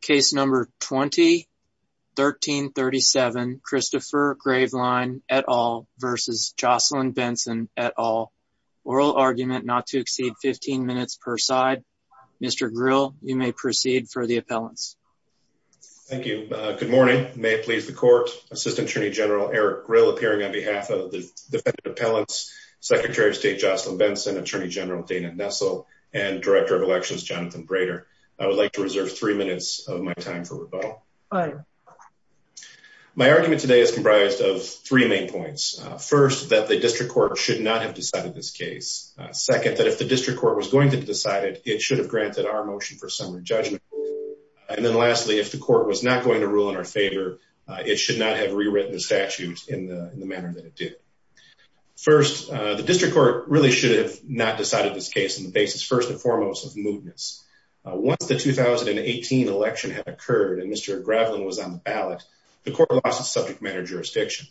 Case number 20-1337 Christopher Graveline et al. versus Jocelyn Benson et al. Oral argument not to exceed 15 minutes per side. Mr. Grill, you may proceed for the appellants. Thank you. Good morning. May it please the court. Assistant Attorney General Eric Grill, appearing on behalf of the defendant appellants, Secretary of State Jocelyn Benson, Attorney General Dana Nessel, and Director of Elections Jonathan Brader. I would like to reserve three minutes of my time for rebuttal. My argument today is comprised of three main points. First, that the district court should not have decided this case. Second, that if the district court was going to decide it, it should have granted our motion for summary judgment. And then lastly, if the court was not going to rule in our favor, it should not have rewritten the statute in the manner that it did. First, the district court really should have not decided this case on the basis, first and foremost, of mootness. Once the 2018 election had occurred and Mr. Graveline was on the ballot, the court lost its subject matter jurisdiction.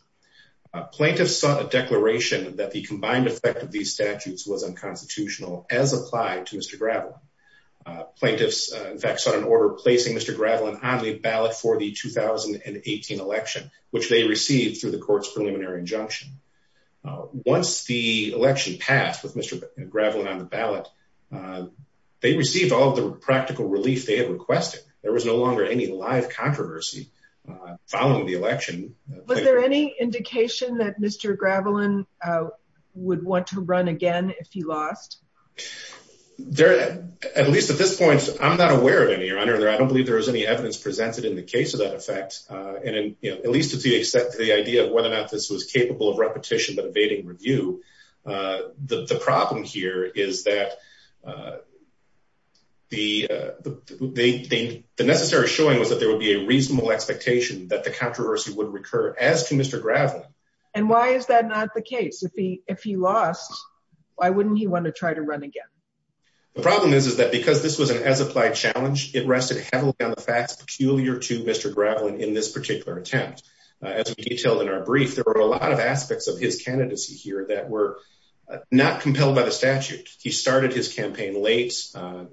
Plaintiffs sought a declaration that the combined effect of these statutes was unconstitutional as applied to Mr. Graveline. Plaintiffs, in fact, sought an order placing Mr. Graveline on the ballot for the 2018 election, which they received through the court's preliminary injunction. Once the election passed with Mr. Graveline on the ballot, they received all the practical relief they had requested. There was no longer any live controversy following the election. Was there any indication that Mr. Graveline would want to run again if he lost? There, at least at this point, I'm not aware of any, Your Honor. I don't believe there was any evidence presented in the case of that effect. And at least it's the idea of whether this was capable of repetition but evading review. The problem here is that the necessary showing was that there would be a reasonable expectation that the controversy would recur as to Mr. Graveline. And why is that not the case? If he lost, why wouldn't he want to try to run again? The problem is that because this was an as-applied challenge, it rested heavily on the facts peculiar to Mr. Graveline in this particular attempt. As we detailed in our brief, there were a lot of aspects of his candidacy here that were not compelled by the statute. He started his campaign late,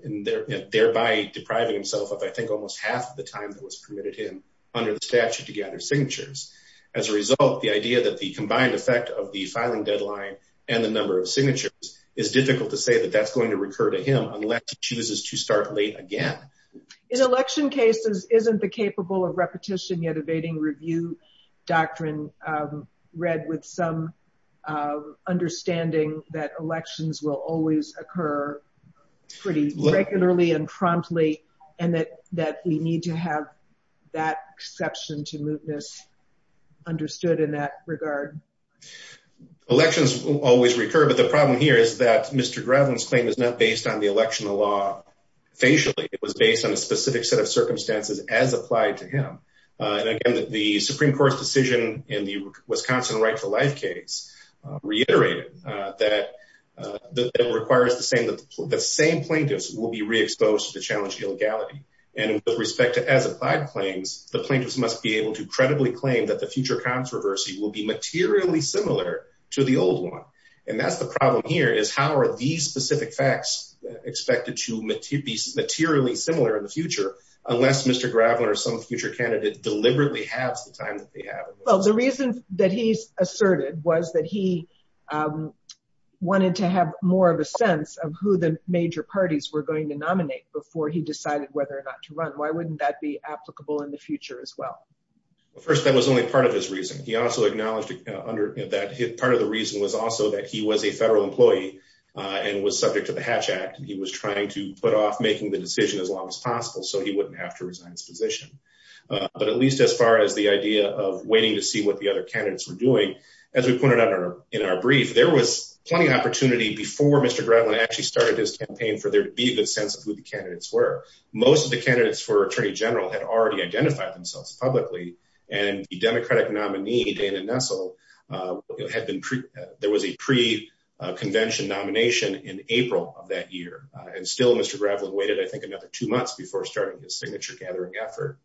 thereby depriving himself of, I think, almost half the time that was permitted him under the statute to gather signatures. As a result, the idea that the combined effect of the filing deadline and the number of signatures is difficult to say that that's going to recur to him unless he chooses to start late again. In election cases, isn't the capable of repetition yet evading review doctrine read with some understanding that elections will always occur pretty regularly and promptly and that we need to have that exception to move this understood in that regard? Elections always recur, but the problem here is that Mr. Graveline's claim is not based on election law facially. It was based on a specific set of circumstances as applied to him. The Supreme Court's decision in the Wisconsin Right to Life case reiterated that it requires the same plaintiffs will be re-exposed to the challenge of illegality. With respect to as-applied claims, the plaintiffs must be able to credibly claim that the future controversy will be materially similar to the old one. That's the problem here is how are these specific facts expected to be materially similar in the future unless Mr. Graveline or some future candidate deliberately halves the time that they have? Well, the reason that he's asserted was that he wanted to have more of a sense of who the major parties were going to nominate before he decided whether or not to run. Why wouldn't that be applicable in the future as well? Well, first, that was only part of his reason. He also acknowledged that part of the reason was also that he was a federal employee and was subject to the Hatch Act. He was trying to put off making the decision as long as possible so he wouldn't have to resign his position. But at least as far as the idea of waiting to see what the other candidates were doing, as we pointed out in our brief, there was plenty of opportunity before Mr. Graveline actually started his campaign for there to be a good sense of who the candidates were. Most of the candidates for Attorney General had already identified themselves publicly, and the Democratic nominee Dana Nessel, there was a pre-convention nomination in April of that year. And still, Mr. Graveline waited, I think, another two months before starting his signature-gathering effort.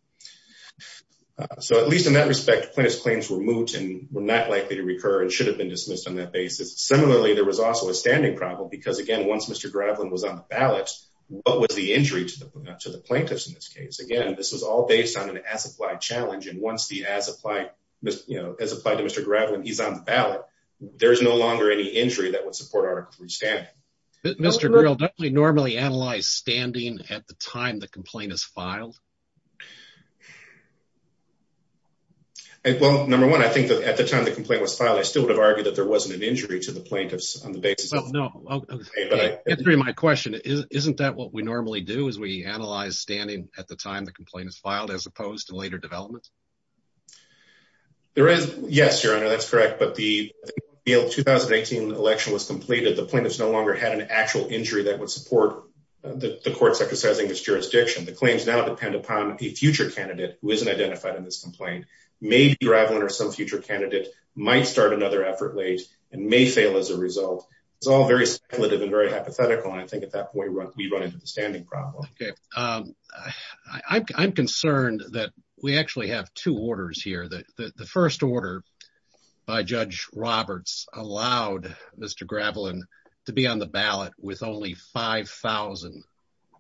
So at least in that respect, plaintiff's claims were moot and were not likely to recur and should have been dismissed on that basis. Similarly, there was also a standing problem because, again, once Mr. Graveline was on the ballot, what was the injury to the plaintiffs in this case? Again, this was all based on an as-applied challenge. And once the as-applied, you know, as applied to Mr. Graveline, he's on the ballot, there is no longer any injury that would support Article III standing. But Mr. Greel, don't we normally analyze standing at the time the complaint is filed? Well, number one, I think that at the time the complaint was filed, I still would have argued that there wasn't an injury to the plaintiffs on the basis of- Well, no. Answering my question, isn't that what we normally do is we analyze standing at the time the complaint is filed as opposed to later development? Yes, Your Honor, that's correct. But the 2018 election was completed. The plaintiffs no longer had an actual injury that would support the court's exercising its jurisdiction. The claims now depend upon a future candidate who isn't identified in this complaint. Maybe Graveline or some future candidate might start another effort late and may fail as a we run into the standing problem. Okay. I'm concerned that we actually have two orders here. The first order by Judge Roberts allowed Mr. Graveline to be on the ballot with only 5,000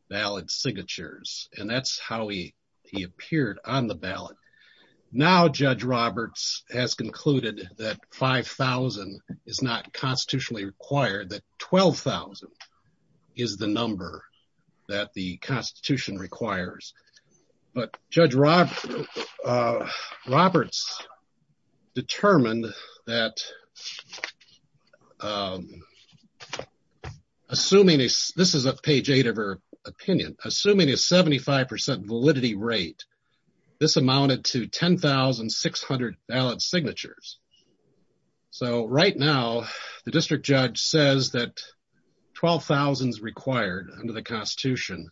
ballot signatures. And that's how he appeared on the ballot. Now, Judge Roberts has concluded that 5,000 is not constitutionally required, that 12,000 is the number that the Constitution requires. But Judge Roberts determined that, assuming this is a page eight of her opinion, assuming a 75% validity rate, this amounted to 12,000. So right now, the district judge says that 12,000 is required under the Constitution.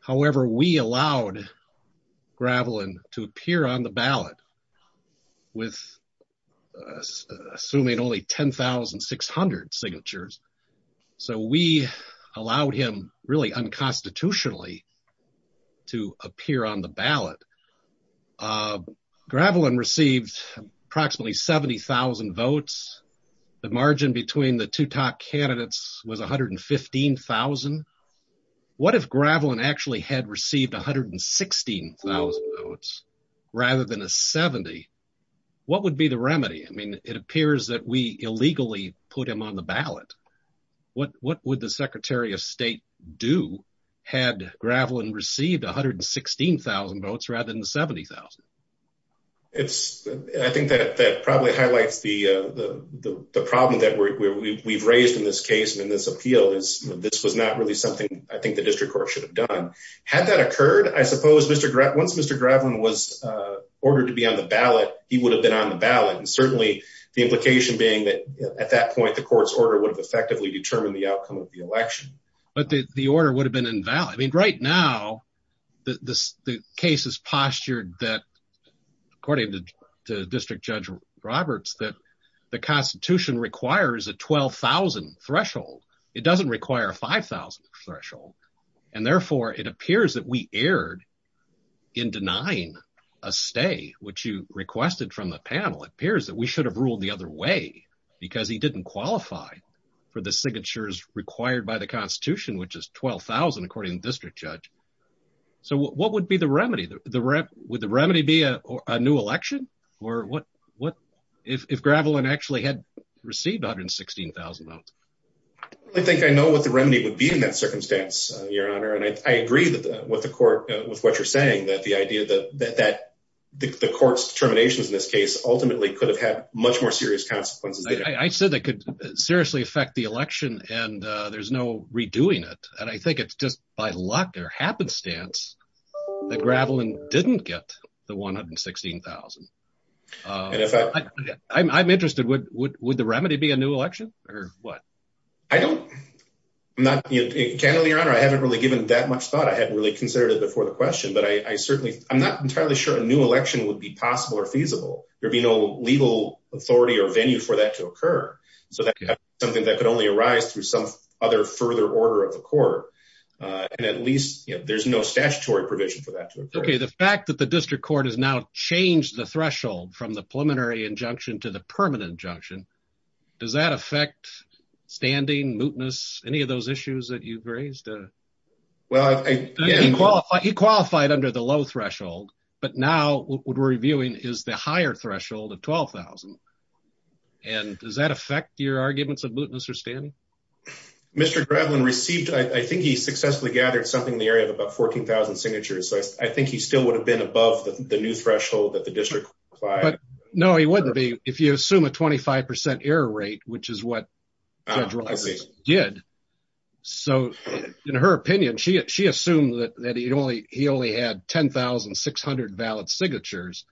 However, we allowed Graveline to appear on the ballot with assuming only 10,600 signatures. So we allowed him really unconstitutionally to appear on the ballot. Graveline received approximately 70,000 votes. The margin between the two top candidates was 115,000. What if Graveline actually had received 116,000 votes rather than a 70? What would be the remedy? I mean, it appears that we illegally put him on the ballot. What would the Secretary of State do had Graveline received 116,000 votes rather than 70,000? I think that probably highlights the problem that we've raised in this case and in this appeal is this was not really something I think the district court should have done. Had that occurred, I suppose once Mr. Graveline was ordered to be on the ballot, he would have been on the ballot. Certainly, the implication being that at that point, the court's order would have effectively determined the outcome of the election. But the order would have been invalid. I mean, right now, the case is postured that according to District Judge Roberts, that the Constitution requires a 12,000 threshold. It doesn't require a 5,000 threshold. Therefore, it appears that we erred in denying a stay, which you requested from the panel. It appears that we should have ruled the other way because he didn't qualify for the signatures required by the Constitution, which is 12,000, according to District Judge. So what would be the remedy? Would the remedy be a new election? Or what if Graveline actually had received 116,000 votes? I think I know what the remedy would be in that circumstance, Your Honor. And I agree with what you're saying, that the idea that the court's determinations in this case ultimately could have much more serious consequences. I said that could seriously affect the election, and there's no redoing it. And I think it's just by luck or happenstance that Graveline didn't get the 116,000. I'm interested, would the remedy be a new election? Or what? I don't, I'm not, candidly, Your Honor, I haven't really given that much thought. I hadn't really considered it before the question. But I certainly, I'm not entirely sure a new election would be legal authority or venue for that to occur. So that's something that could only arise through some other further order of the court. And at least, you know, there's no statutory provision for that to occur. Okay, the fact that the District Court has now changed the threshold from the preliminary injunction to the permanent injunction, does that affect standing, mootness, any of those issues that you've raised? He qualified under the low threshold, but now what we're reviewing is the higher threshold of 12,000. And does that affect your arguments of mootness or standing? Mr. Graveline received, I think he successfully gathered something in the area of about 14,000 signatures. So I think he still would have been above the new threshold that the district applied. But no, he wouldn't be if you assume a 25% error rate, which is what did. So in her opinion, she assumed that he only had 10,600 valid signatures,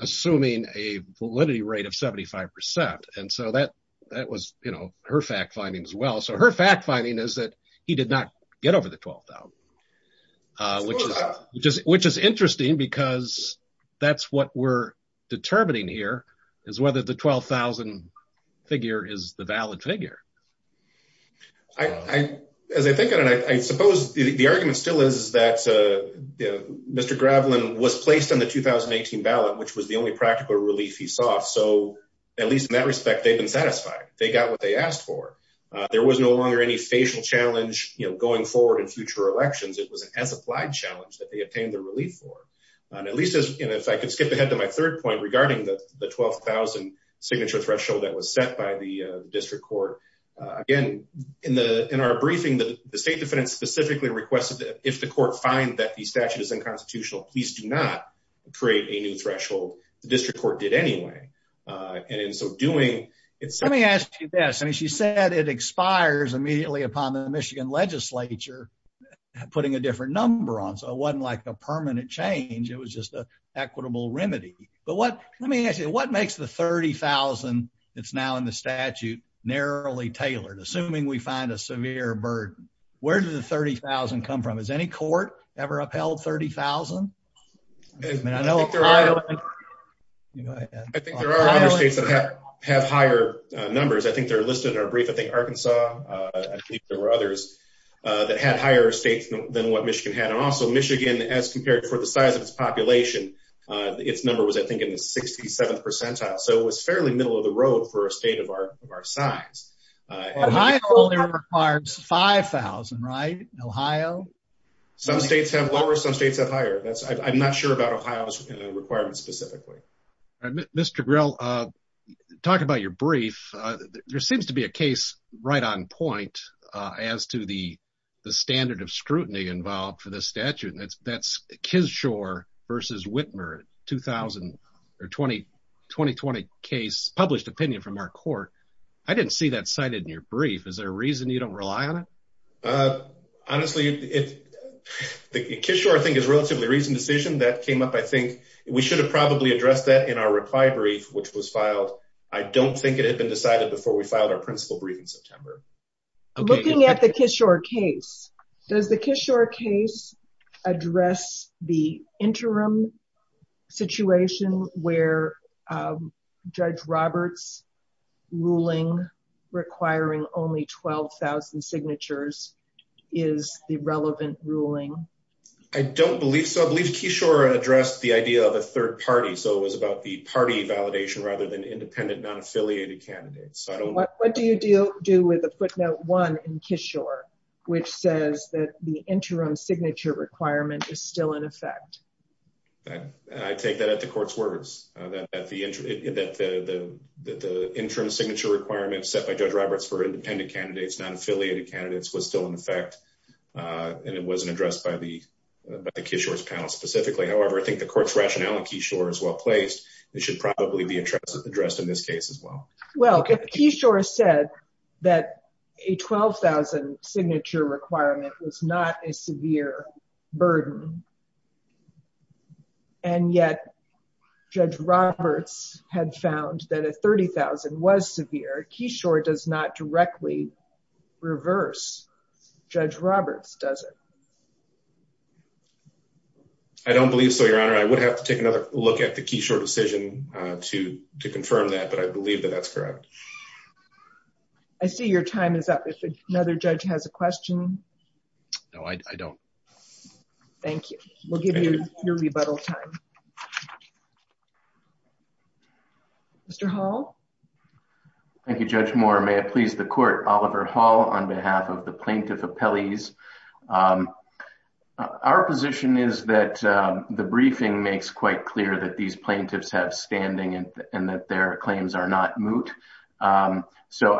assuming a validity rate of 75%. And so that was, you know, her fact finding as well. So her fact finding is that he did not get over the 12,000. Which is interesting, because that's what we're talking about. As I think of it, I suppose the argument still is that Mr. Graveline was placed on the 2018 ballot, which was the only practical relief he saw. So at least in that respect, they've been satisfied. They got what they asked for. There was no longer any facial challenge, you know, going forward in future elections. It was an as-applied challenge that they obtained the relief for. And at least as, you know, if I could skip ahead to my third point regarding the 12,000 signature threshold that was set by the district court. Again, in our briefing, the state defendant specifically requested that if the court find that the statute is unconstitutional, please do not create a new threshold. The district court did anyway. And in so doing, it's- Let me ask you this. I mean, she said it expires immediately upon the Michigan legislature, putting a different number on. So it wasn't like a permanent change. It was just an remedy. But what- Let me ask you, what makes the 30,000 that's now in the statute narrowly tailored? Assuming we find a severe burden, where did the 30,000 come from? Has any court ever upheld 30,000? I mean, I know- I think there are other states that have higher numbers. I think they're listed in our brief. I think Arkansas, I think there were others that had higher stakes than what Michigan had. And also Michigan, as compared for the size of its population, its number was, I think, in the 67th percentile. So it was fairly middle of the road for a state of our size. Ohio only requires 5,000, right? In Ohio? Some states have lower, some states have higher. I'm not sure about Ohio's requirements specifically. Mr. Grell, talking about your brief, there seems to be a case right on point as to the standard of 2000 or 2020 case published opinion from our court. I didn't see that cited in your brief. Is there a reason you don't rely on it? Honestly, Kishore, I think, is a relatively recent decision that came up. I think we should have probably addressed that in our reply brief, which was filed. I don't think it had been decided before we filed our principal brief in September. Looking at the Kishore case, does the Kishore case address the interim situation where Judge Roberts' ruling requiring only 12,000 signatures is the relevant ruling? I don't believe so. I believe Kishore addressed the idea of a third party. So it was about the party validation rather than independent, non-affiliated candidates. What do you do with the footnote one in Kishore, which says that the interim signature requirement is still in effect? I take that at the court's words. The interim signature requirement set by Judge Roberts for independent candidates, non-affiliated candidates was still in effect. It wasn't addressed by the Kishore's panel specifically. However, I think the court's rationale in Kishore is well placed. It should be addressed in this case as well. If Kishore said that a 12,000 signature requirement was not a severe burden, and yet Judge Roberts had found that a 30,000 was severe, Kishore does not directly reverse Judge Roberts, does it? I don't believe so, Your Honor. I would have to look at the Kishore decision to confirm that, but I believe that that's correct. I see your time is up. If another judge has a question? No, I don't. Thank you. We'll give you your rebuttal time. Mr. Hall? Thank you, Judge Moore. May it please the court, on behalf of the plaintiff appellees. Our position is that the briefing makes quite clear that these plaintiffs have standing and that their claims are not moot. I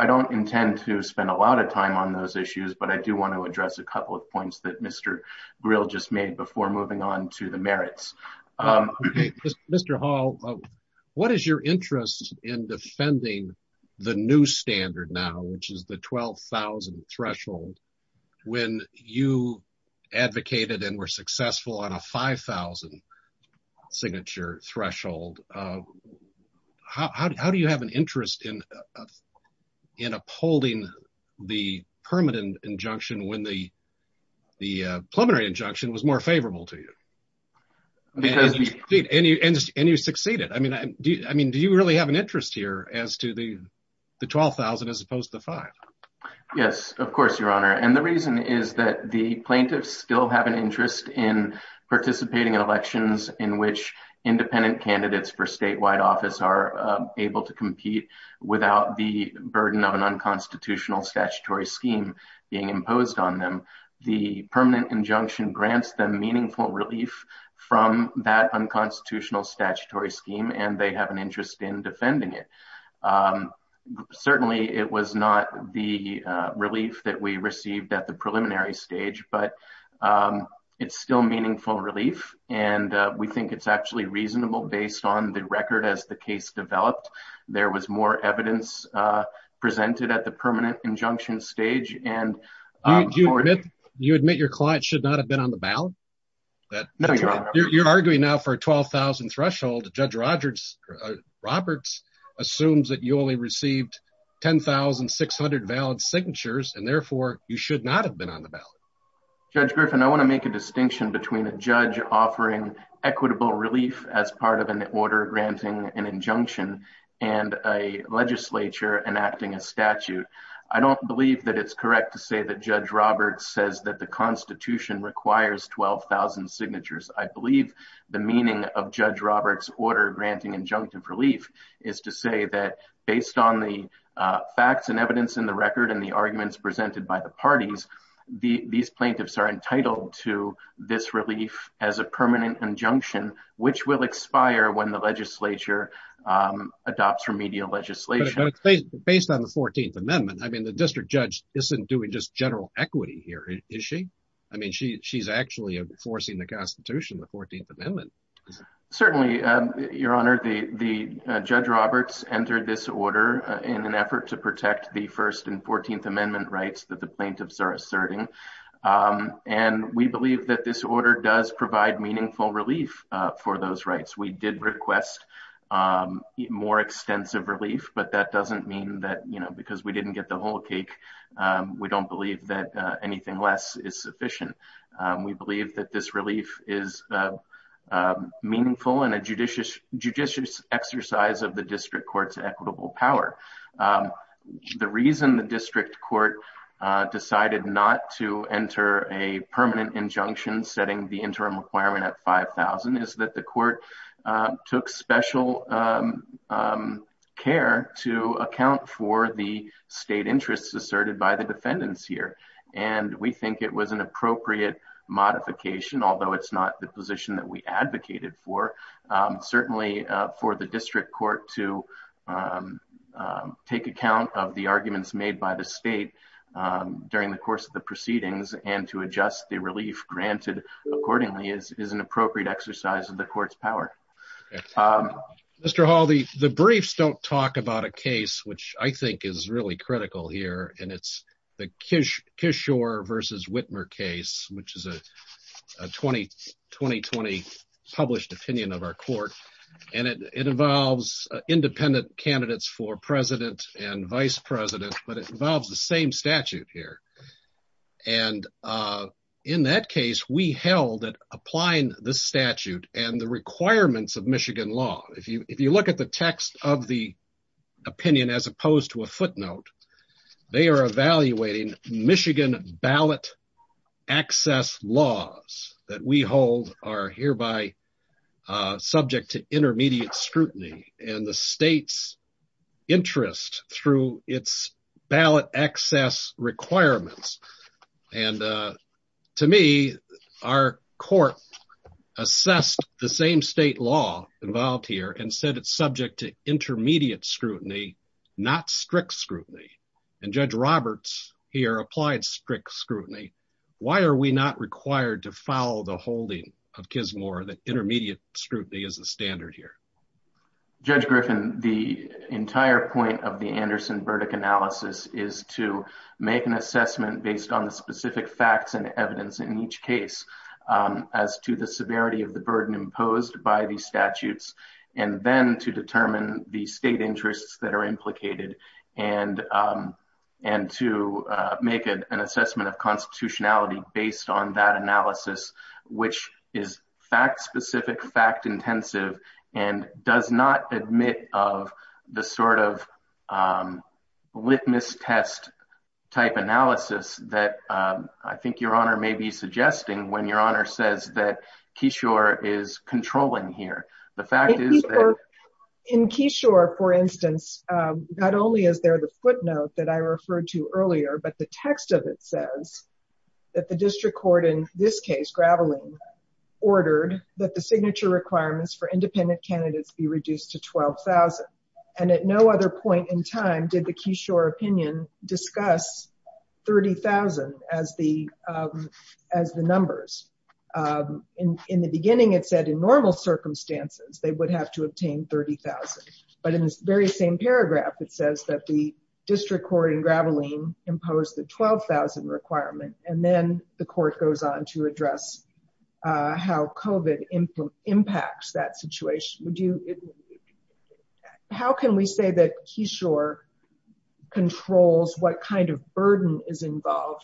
don't intend to spend a lot of time on those issues, but I do want to address a couple of points that Mr. Grill just made before moving on to the merits. Mr. Hall, what is your interest in defending the new standard now, which is the 12,000 threshold, when you advocated and were successful on a 5,000 signature threshold? How do you have an interest in upholding the permanent injunction when the preliminary injunction was more favorable to you? And you succeeded. Do you really have an interest in the 12,000 as opposed to the 5,000? Yes, of course, Your Honor. And the reason is that the plaintiffs still have an interest in participating in elections in which independent candidates for statewide office are able to compete without the burden of an unconstitutional statutory scheme being imposed on them. The permanent injunction grants them meaningful relief from that unconstitutional statutory scheme, and they have an interest in defending it. Certainly, it was not the relief that we received at the preliminary stage, but it's still meaningful relief, and we think it's actually reasonable based on the record as the case developed. There was more evidence presented at the permanent injunction stage. Do you admit your client should not have been on the ballot? You're arguing now for a 12,000 threshold. Judge Roberts assumes that you only received 10,600 valid signatures, and therefore, you should not have been on the ballot. Judge Griffin, I want to make a distinction between a judge offering equitable relief as part of an order granting an injunction and a legislature enacting a statute. I don't believe that it's correct to say that Judge Roberts says that Constitution requires 12,000 signatures. I believe the meaning of Judge Roberts' order granting injunctive relief is to say that based on the facts and evidence in the record and the arguments presented by the parties, these plaintiffs are entitled to this relief as a permanent injunction, which will expire when the legislature adopts remedial legislation. But based on the 14th Amendment, I mean, the district judge isn't doing just general equity here, is she? I mean, she's actually enforcing the Constitution, the 14th Amendment. Certainly, Your Honor. Judge Roberts entered this order in an effort to protect the First and 14th Amendment rights that the plaintiffs are asserting, and we believe that this order does provide meaningful relief for those rights. We did request more extensive relief, but that doesn't believe that anything less is sufficient. We believe that this relief is meaningful and a judicious exercise of the district court's equitable power. The reason the district court decided not to enter a permanent injunction setting the interim requirement at 5,000 is that court took special care to account for the state interests asserted by the defendants here, and we think it was an appropriate modification, although it's not the position that we advocated for. Certainly, for the district court to take account of the arguments made by the state during the course of the proceedings and to adjust the relief granted accordingly is an appropriate exercise of the court's power. Mr. Hall, the briefs don't talk about a case which I think is really critical here, and it's the Kishore v. Whitmer case, which is a 2020 published opinion of our court, and it involves independent candidates for president and vice president, but it involves the same statute here. In that case, we held that applying the statute and the requirements of Michigan law, if you look at the text of the opinion as opposed to a footnote, they are evaluating Michigan ballot access laws that we hold are hereby to intermediate scrutiny and the state's interest through its ballot access requirements, and to me, our court assessed the same state law involved here and said it's subject to intermediate scrutiny, not strict scrutiny, and Judge Roberts here applied strict scrutiny. Why are we not required to follow the holding of Kishore that intermediate scrutiny is a standard here? Judge Griffin, the entire point of the Anderson verdict analysis is to make an assessment based on the specific facts and evidence in each case as to the severity of the burden imposed by the statutes and then to determine the state interests that are implicated and to make an constitutionality based on that analysis, which is fact specific, fact intensive, and does not admit of the sort of litmus test type analysis that I think your honor may be suggesting when your honor says that Kishore is controlling here. The fact is that in Kishore, for instance, not only is there the footnote that I referred to earlier, but the text of it says that the district court in this case, Graveline, ordered that the signature requirements for independent candidates be reduced to 12,000, and at no other point in time did the Kishore opinion discuss 30,000 as the numbers. In the beginning, it said in normal circumstances, they would have to obtain 30,000, but in this very same paragraph, it says that the district court in Graveline imposed the 12,000 requirement, and then the court goes on to address how COVID impacts that situation. How can we say that Kishore controls what kind of burden is that?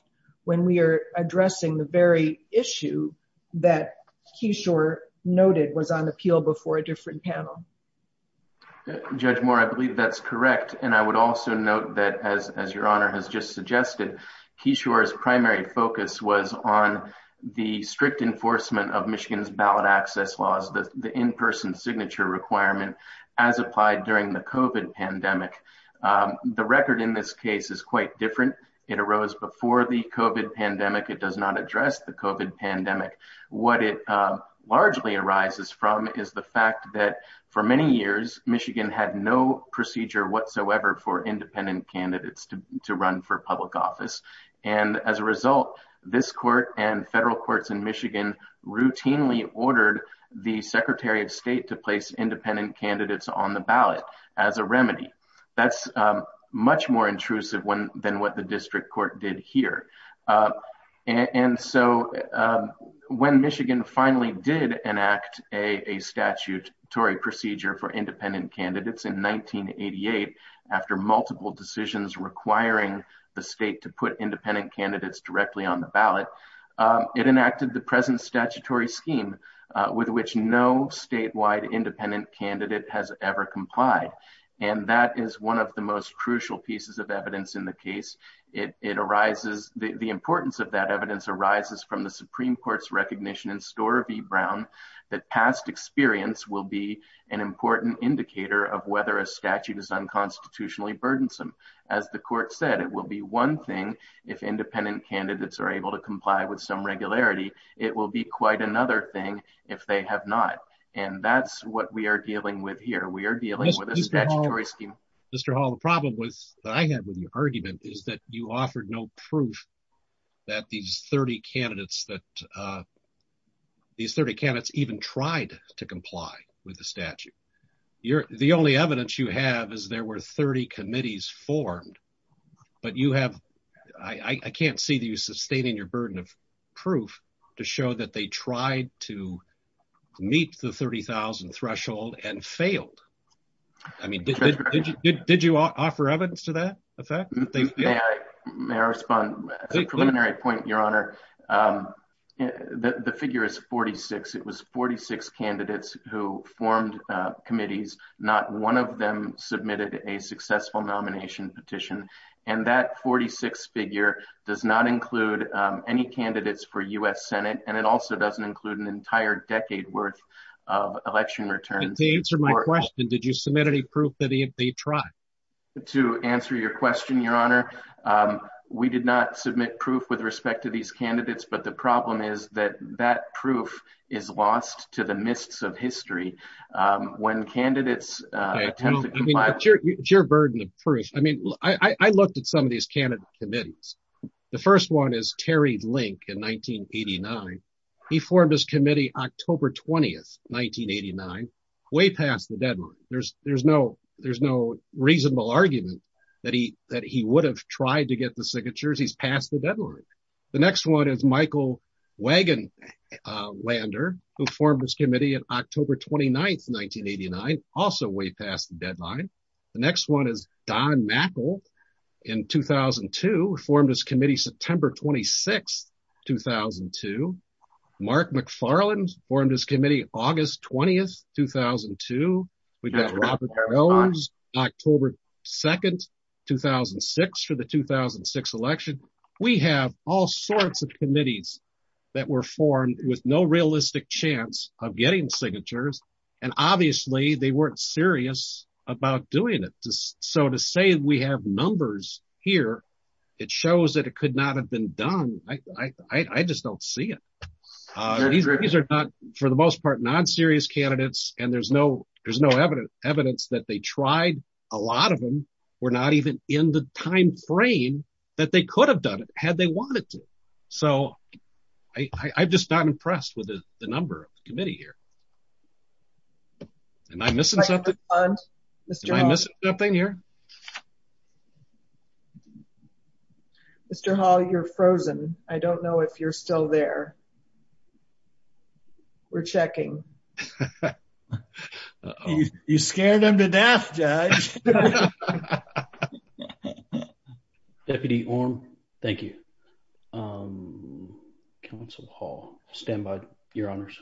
Judge Moore, I believe that's correct, and I would also note that as your honor has just suggested, Kishore's primary focus was on the strict enforcement of Michigan's ballot access laws, the in-person signature requirement as applied during the COVID pandemic. The record in this case is quite different. It arose before the COVID pandemic. It does not address the COVID pandemic. What it largely arises from is the fact that for many years, Michigan had no procedure whatsoever for independent candidates to run for public office, and as a result, this court and federal courts in Michigan routinely ordered the secretary of state to place independent candidates on the ballot as a remedy. That's much more intrusive than what the district court did here, and so when Michigan finally did enact a statutory procedure for independent candidates in 1988 after multiple decisions requiring the state to put independent candidates directly on the ballot, it enacted the present statutory scheme with which no statewide independent candidate has ever complied, and that is one of the most crucial pieces of evidence in the case. It arises, the importance of that evidence arises from the Supreme Court's recognition in Storer v Brown that past experience will be an important indicator of whether a statute is unconstitutionally burdensome. As the court said, it will be one thing if independent candidates are able to comply with some regularity. It will be quite another thing if they have not, and that's what we are dealing with here. We are dealing with a statutory scheme. Mr. Hall, the problem was that I had with your argument is that you offered no proof that these 30 candidates even tried to comply with the statute. The only evidence you have is there were 30 committees formed, but I can't see you sustaining your burden of proof to show that they tried to comply. May I respond? A preliminary point, Your Honor. The figure is 46. It was 46 candidates who formed committees. Not one of them submitted a successful nomination petition, and that 46 figure does not include any candidates for U.S. Senate, and it also doesn't include an entire decade worth of election returns. To answer my question, did you submit any proof that they tried? To answer your question, Your Honor, we did not submit proof with respect to these candidates, but the problem is that that proof is lost to the mists of history when candidates attempt to comply. It's your burden of proof. I looked at some of these candidates' committees. The first one is Terry Link in 1989. He formed his committee October 20, 1989, way past the deadline. There's no reasonable argument that he would have tried to get the signatures. He's past the deadline. The next one is Michael Wagenlander, who formed his committee on October 29, 1989, also way past the deadline. The next one is Don Mackle in 2002, formed his committee August 20, 2002. We've got Robert Jones, October 2, 2006, for the 2006 election. We have all sorts of committees that were formed with no realistic chance of getting signatures, and obviously they weren't serious about doing it. So to say we have numbers here, it shows that it was not serious candidates, and there's no evidence that they tried. A lot of them were not even in the time frame that they could have done it, had they wanted to. So I'm just not impressed with the number of the committee here. Am I missing something here? Mr. Hall, you're frozen. I don't know if you're still there. We're checking. You scared them to death, Judge. Deputy Orme, thank you. Council Hall, stand by, your honors.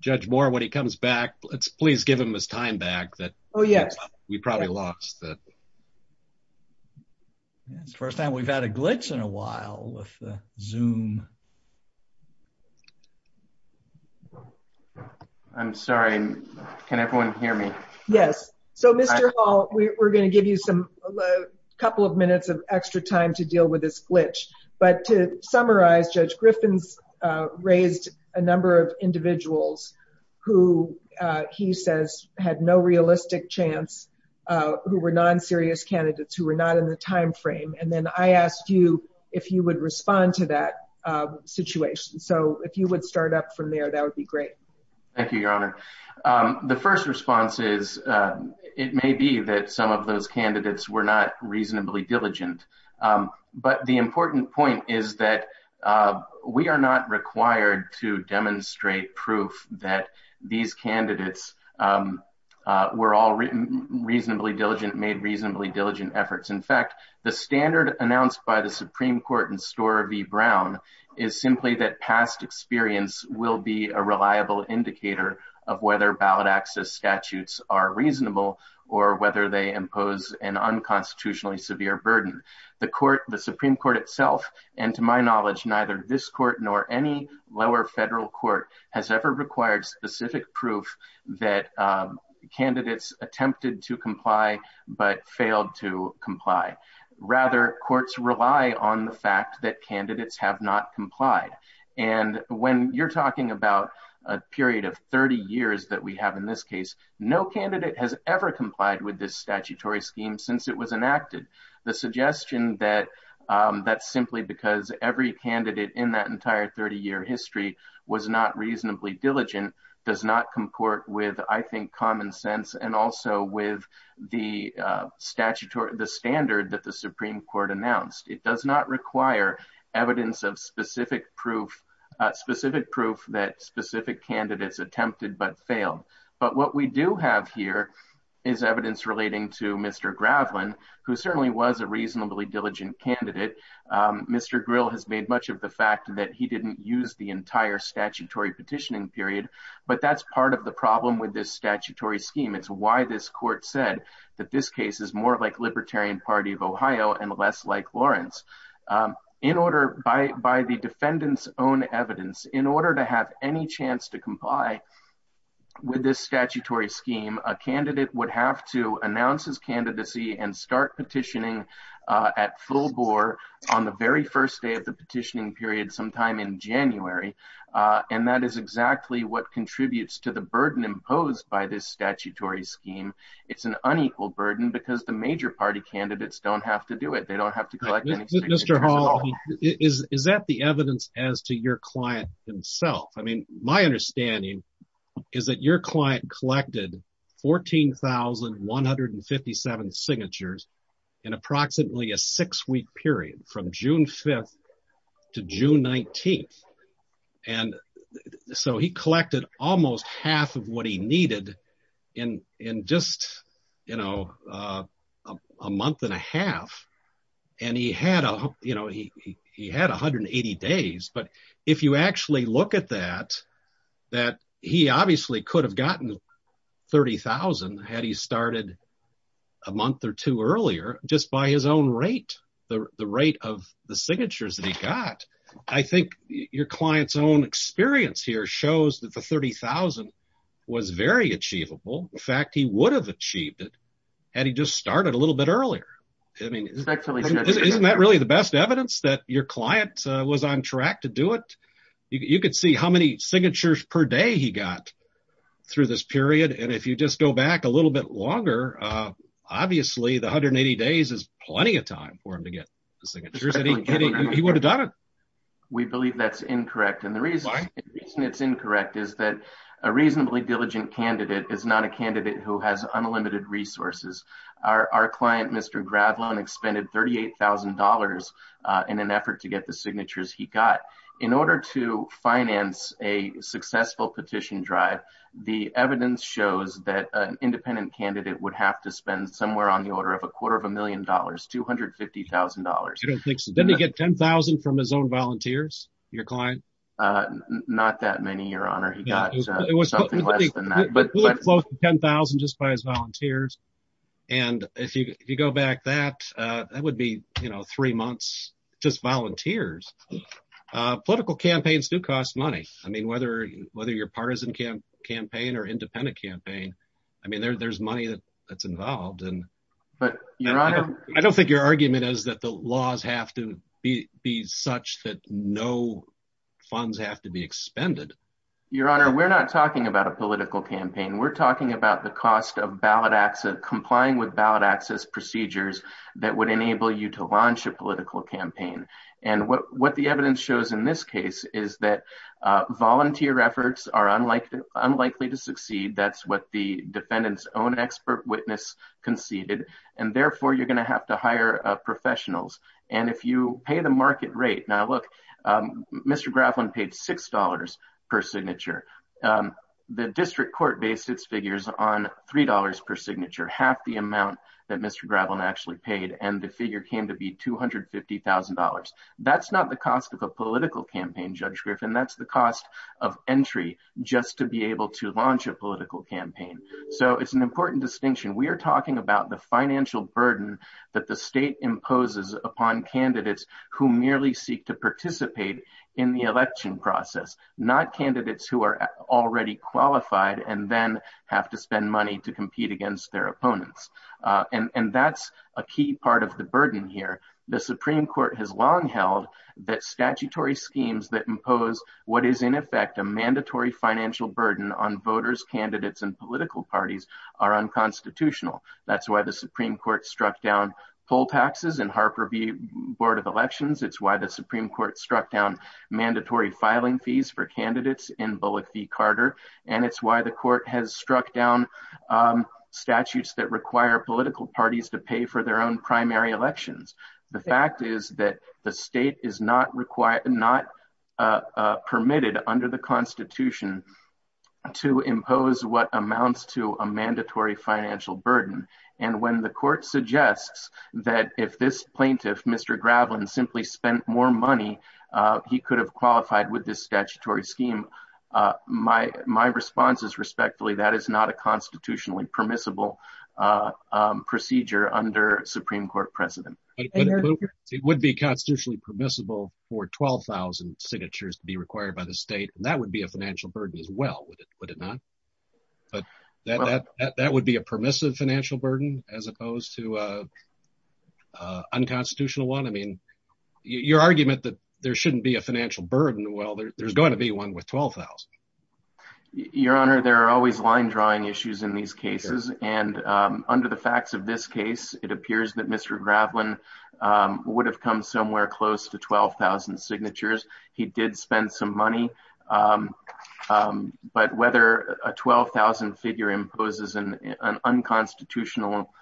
Judge Moore, when he comes back, let's please give him his time back. Oh, yes. We probably lost that. It's the first time we've had a glitch in a while with the Zoom. I'm sorry. Can everyone hear me? Yes. So, Mr. Hall, we're going to give you a couple of minutes to deal with this glitch. But to summarize, Judge Griffins raised a number of individuals who he says had no realistic chance, who were non-serious candidates, who were not in the time frame. And then I asked you if you would respond to that situation. So if you would start up from there, that would be great. Thank you, your honor. The first response is it may be that some of those but the important point is that we are not required to demonstrate proof that these candidates were all written reasonably diligent, made reasonably diligent efforts. In fact, the standard announced by the Supreme Court in Storer v. Brown is simply that past experience will be a reliable indicator of whether ballot access statutes are reasonable or whether they are not. The Supreme Court itself, and to my knowledge, neither this court nor any lower federal court has ever required specific proof that candidates attempted to comply but failed to comply. Rather, courts rely on the fact that candidates have not complied. And when you're talking about a period of 30 years that we have in this case, no candidate has ever complied with this statutory scheme since it was enacted. The suggestion that that's simply because every candidate in that entire 30-year history was not reasonably diligent does not comport with, I think, common sense and also with the standard that the Supreme Court announced. It does not require evidence of specific proof that specific candidates attempted but failed. But what we do have here is evidence relating to Mr. Gravlin, who certainly was a reasonably diligent candidate. Mr. Grill has made much of the fact that he didn't use the entire statutory petitioning period, but that's part of the problem with this statutory scheme. It's why this court said that this case is more like Libertarian Party of Ohio and less like Lawrence. In order, by the defendant's own evidence, in order to have any chance to comply with this statutory scheme, a candidate would have to announce his candidacy and start petitioning at full bore on the very first day of the petitioning period sometime in January. And that is exactly what contributes to the burden imposed by this statutory scheme. It's an unequal burden because the major party candidates don't have to do it. They don't have to. Mr. Hall, is that the evidence as to your client himself? I mean, my understanding is that your client collected 14,157 signatures in approximately a six-week period from June 5th to June 19th. And so he collected almost half of what he needed in just a month and a half. And he had 180 days. But if you actually look at that, he obviously could have gotten 30,000 had he started a month or two earlier, just by his own rate, the rate of the signatures that he got. I think your client's own experience here shows that the 30,000 was very achievable. In fact, he would have achieved it had he just started a little bit earlier. Isn't that really the best evidence that your client was on track to do it? You could see how many signatures per day he got through this period. And if you just go back a little bit longer, obviously the 180 days is plenty of time for him to get the signatures. He would have done it. We believe that's incorrect. And the reason it's incorrect is that a reasonably diligent candidate is not a candidate who has unlimited resources. Our client, Mr. Gravlon, expended $38,000 in an effort to get the signatures he got. In order to finance a successful petition drive, the evidence shows that an independent candidate would have to spend somewhere on the order of a quarter of a million dollars, $250,000. Didn't he get 10,000 from his own volunteers, your client? Not that many, your honor. He got something less than that. He was close to 10,000 just by his volunteers. And if you go back that, that would be three months just volunteers. Political campaigns do cost money. I mean, whether you're a partisan campaign or independent campaign, I mean, there's money that's involved. I don't think your argument is that the laws have to be such that no funds have to be expended. Your honor, we're not talking about a political campaign. We're talking about the cost of ballot access, complying with ballot access procedures that would enable you to launch a political campaign. And what the evidence shows in this case is that volunteer efforts are unlikely to succeed. That's what the defendant's own expert witness conceded. And therefore you're going to have to hire professionals. And if you pay the $6 per signature, the district court based its figures on $3 per signature, half the amount that Mr. Gravelin actually paid. And the figure came to be $250,000. That's not the cost of a political campaign, Judge Griffin. That's the cost of entry just to be able to launch a political campaign. So it's an important distinction. We are talking about the financial burden that the state imposes upon candidates who merely seek to participate in the election process, not candidates who are already qualified and then have to spend money to compete against their opponents. And that's a key part of the burden here. The Supreme Court has long held that statutory schemes that impose what is in effect a mandatory financial burden on voters, candidates, and political parties are unconstitutional. That's why the Supreme Court struck down poll taxes in Harper v. Board of Elections. It's why the Supreme Court struck down mandatory filing fees for candidates in Bullock v. Carter. And it's why the court has struck down statutes that require political parties to pay for their own primary elections. The fact is that the state is not permitted under the Constitution to impose what amounts to a mandatory financial burden. And when the court suggests that if this plaintiff, Mr. Gravelin, simply spent more money, he could have qualified with this statutory scheme, my response is respectfully that is not a constitutionally permissible procedure under Supreme Court precedent. It would be constitutionally permissible for 12,000 signatures to be required by the state. And that would be a financial burden as well, would it not? But that would be a permissive financial burden as opposed to unconstitutional one. I mean, your argument that there shouldn't be a financial burden, well, there's going to be one with 12,000. Your Honor, there are always line drawing issues in these cases. And under the facts of this case, it appears that Mr. Gravelin would have come somewhere close to 12,000 signatures. He did spend some money. But whether a 12,000 figure imposes an unconstitutional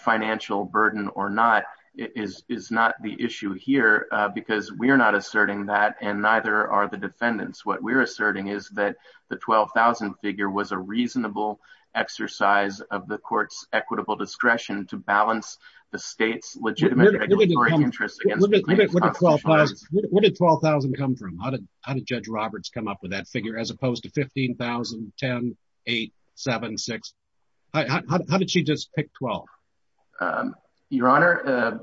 financial burden or not is not the issue here, because we're not asserting that and neither are the defendants. What we're asserting is that the 12,000 figure was a reasonable exercise of the court's equitable discretion to balance the state's legitimate interest. What did 12,000 come from? How did Judge Roberts come up with that figure as opposed to 15,000, 10, eight, seven, six? How did she just pick 12? Your Honor,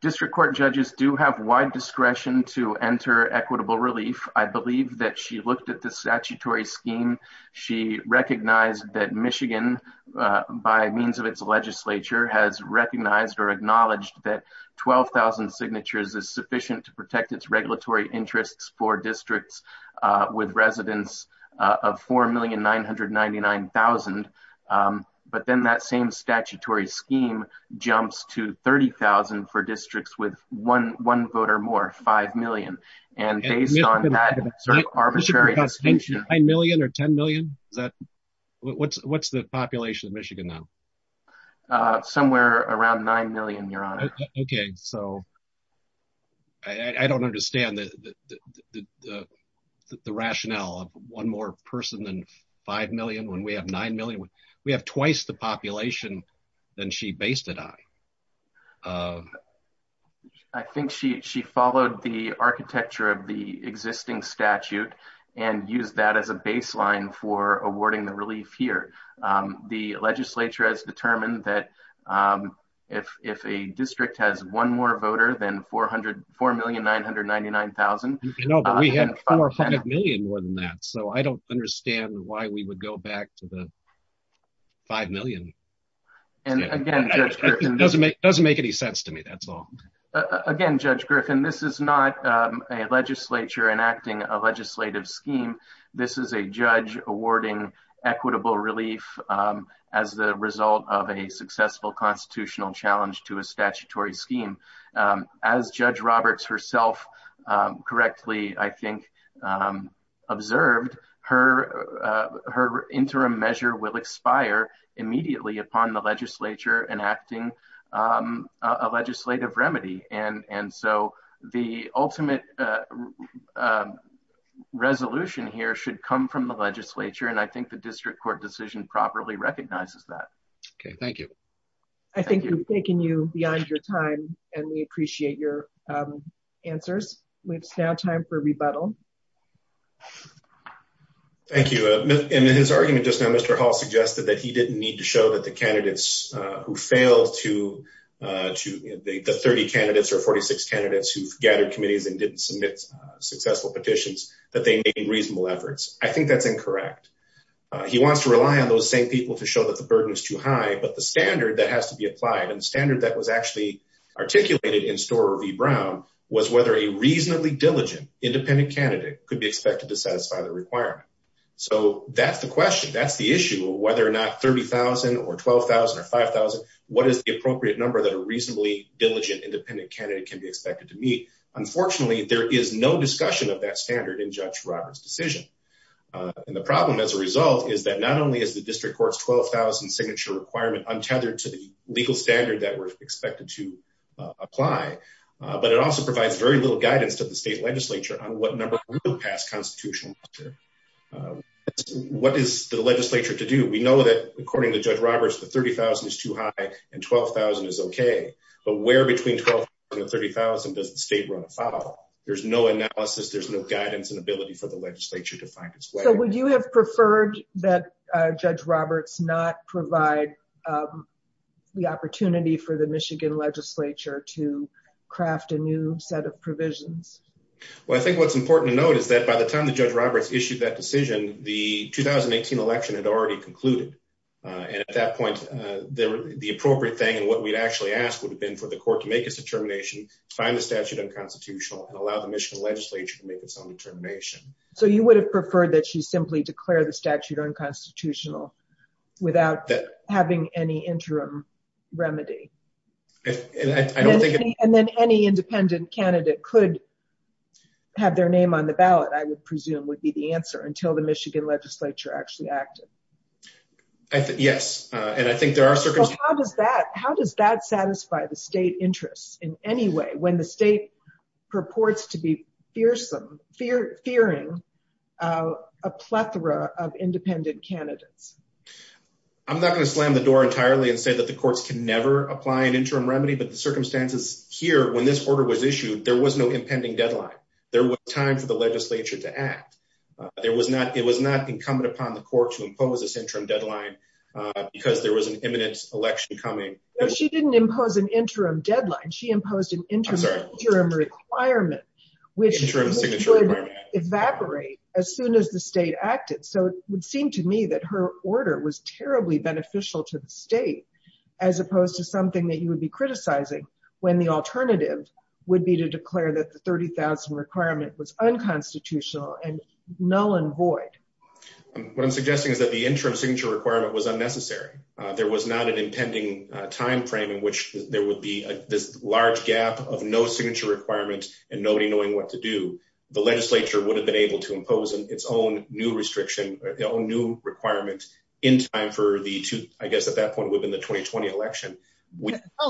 district court judges do have wide discretion to enter equitable relief. I believe that she looked at the statutory scheme. She recognized that Michigan, by means of its legislature, has recognized or acknowledged that 12,000 signatures is sufficient to protect its regulatory interests for districts with residents of 4,999,000. But then that same statutory scheme jumps to 30,000 for districts with one voter more, 5 million. And based on that arbitrary distinction- 9 million or 10 million? What's the population of Michigan now? Somewhere around 9 million, Your Honor. Okay. I don't understand the rationale of one more person than 5 million when we have 9 million. We have twice the population than she based it on. I think she followed the architecture of the existing statute and used that as a baseline for awarding the relief here. The legislature has determined that if a district has one more voter than 4,999,000- No, but we had 4 or 5 million more than that. So I don't understand why we would go back to the 5 million. And again, Judge Griffin- It doesn't make any sense to me, that's all. Again, Judge Griffin, this is not a legislature enacting a legislative scheme. This is a judge awarding equitable relief as the result of a successful constitutional challenge to a statutory scheme. As Judge Roberts herself correctly, I think, observed, her interim measure will expire immediately upon the legislature enacting a legislative remedy. And so the ultimate resolution here should come from the legislature, and I think the district court decision properly recognizes that. Okay. Thank you. I think we've taken you beyond your time, and we appreciate your answers. It's now time for rebuttal. Thank you. And in his argument just now, Mr. Hall suggested that he didn't need to show that the candidates who failed to- the 30 candidates or 46 candidates who've gathered committees and didn't submit successful petitions, that they made reasonable efforts. I think that's incorrect. He wants to rely on those same people to show that the burden is too high, but the standard that has to be applied and standard that was actually articulated in Storer v. Brown was whether a reasonably diligent independent candidate could be expected to satisfy the requirement. So that's the question. That's the issue of whether or not 30,000 or 12,000 or 5,000, what is the appropriate number that a reasonably diligent independent candidate can be expected to meet? Unfortunately, there is no discussion of that standard in Judge Roberts' decision. And the problem as a result is that not only is the district court's 12,000 signature requirement untethered to the legal standard that we're expected to apply, but it also provides very little guidance to the state legislature on what number will pass constitutional measure. What is the legislature to do? We know that, according to Judge Roberts, the 30,000 is too high and 12,000 is okay. But where between 12,000 and 30,000 does the state run afoul? There's no analysis. There's no guidance and ability for the legislature to find its way. to craft a new set of provisions. Well, I think what's important to note is that by the time that Judge Roberts issued that decision, the 2018 election had already concluded. And at that point, the appropriate thing and what we'd actually ask would have been for the court to make its determination, find the statute unconstitutional, and allow the Michigan legislature to make its own determination. So you would have preferred that she simply declare the statute unconstitutional without having any interim remedy? And then any independent candidate could have their name on the ballot, I would presume, would be the answer until the Michigan legislature actually acted. Yes. And I think there are circumstances. How does that satisfy the state interests in any way when the state purports to be fearsome, fearing a plethora of independent candidates? I'm not going to slam the door entirely and say that the courts can never apply an interim remedy. But the circumstances here, when this order was issued, there was no impending deadline. There was time for the legislature to act. It was not incumbent upon the court to impose this interim deadline because there was an imminent election coming. She didn't impose an interim deadline. She imposed an interim requirement, which would evaporate as soon as the state acted. So it would seem to me that her order was terribly beneficial to the state, as opposed to something that you would be criticizing when the alternative would be to declare that the 30,000 requirement was unconstitutional and null and void. What I'm suggesting is that the interim signature requirement was unnecessary. There was not an impending time frame in which there would be this large gap of no signature requirement and nobody knowing what to do. The legislature would have been able to impose its own new requirement in time for the 2020 election.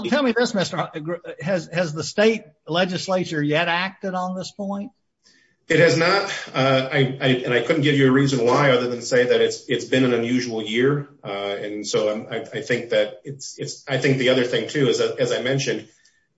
Tell me this, Mr. Has the state legislature yet acted on this point? It has not. And I couldn't give you a reason why other than to say that it's been an unusual year. I think the other thing, too, as I mentioned,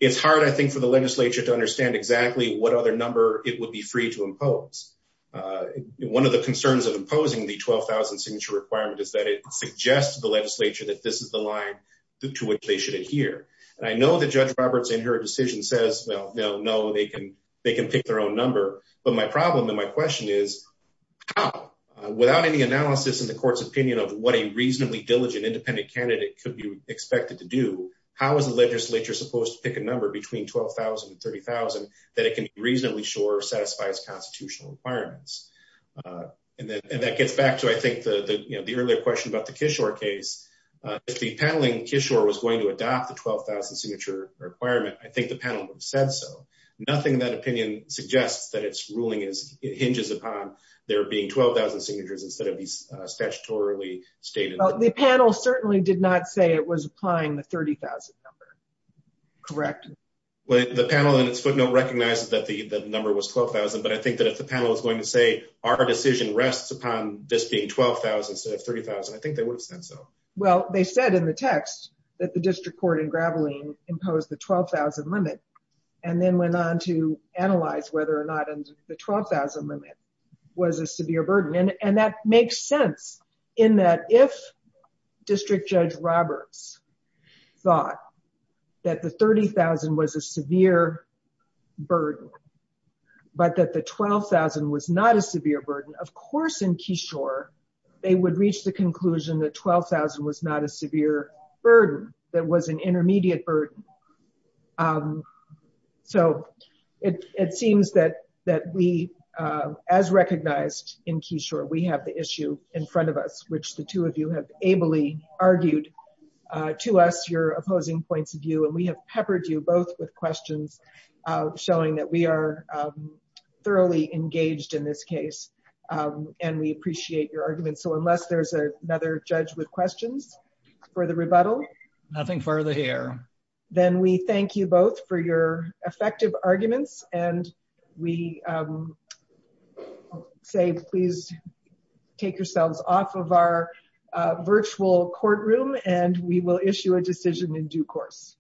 it's hard, I think, for the legislature to be free to impose. One of the concerns of imposing the 12,000 signature requirement is that it suggests to the legislature that this is the line to which they should adhere. And I know that Judge Roberts in her decision says, well, no, no, they can pick their own number. But my problem and my question is how, without any analysis in the court's opinion of what a reasonably diligent independent candidate could be expected to do, how is the legislature supposed to pick a number between 12,000 and 30,000 that it can be reasonably sure satisfies constitutional requirements? And that gets back to, I think, the earlier question about the Kishore case. If the panel in Kishore was going to adopt the 12,000 signature requirement, I think the panel would have said so. Nothing in that opinion suggests that its ruling hinges upon there being 12,000 signatures instead of these statutorily stated. The panel certainly did not say it was applying the 30,000 number. Correct. Well, the panel in its footnote recognizes that the number was 12,000, but I think that if the panel is going to say our decision rests upon this being 12,000 instead of 30,000, I think they would have said so. Well, they said in the text that the district court in Graveline imposed the 12,000 limit and then went on to analyze whether or not the 12,000 limit was a severe burden. And that makes sense in that if District Judge Roberts thought that the 30,000 was a severe burden but that the 12,000 was not a severe burden, of course in Kishore they would reach the conclusion that 12,000 was not a severe burden, that it was an intermediate burden. So it seems that we, as recognized in Kishore, we have the issue in front of us, which the two of you have ably argued to us your opposing points of view, and we have peppered you both with questions showing that we are thoroughly engaged in this case and we appreciate your arguments. So unless there's another judge with questions for the rebuttal. Nothing further here. Then we thank you both for your effective arguments and we say please take yourselves off of our virtual courtroom and we will issue a decision in due course.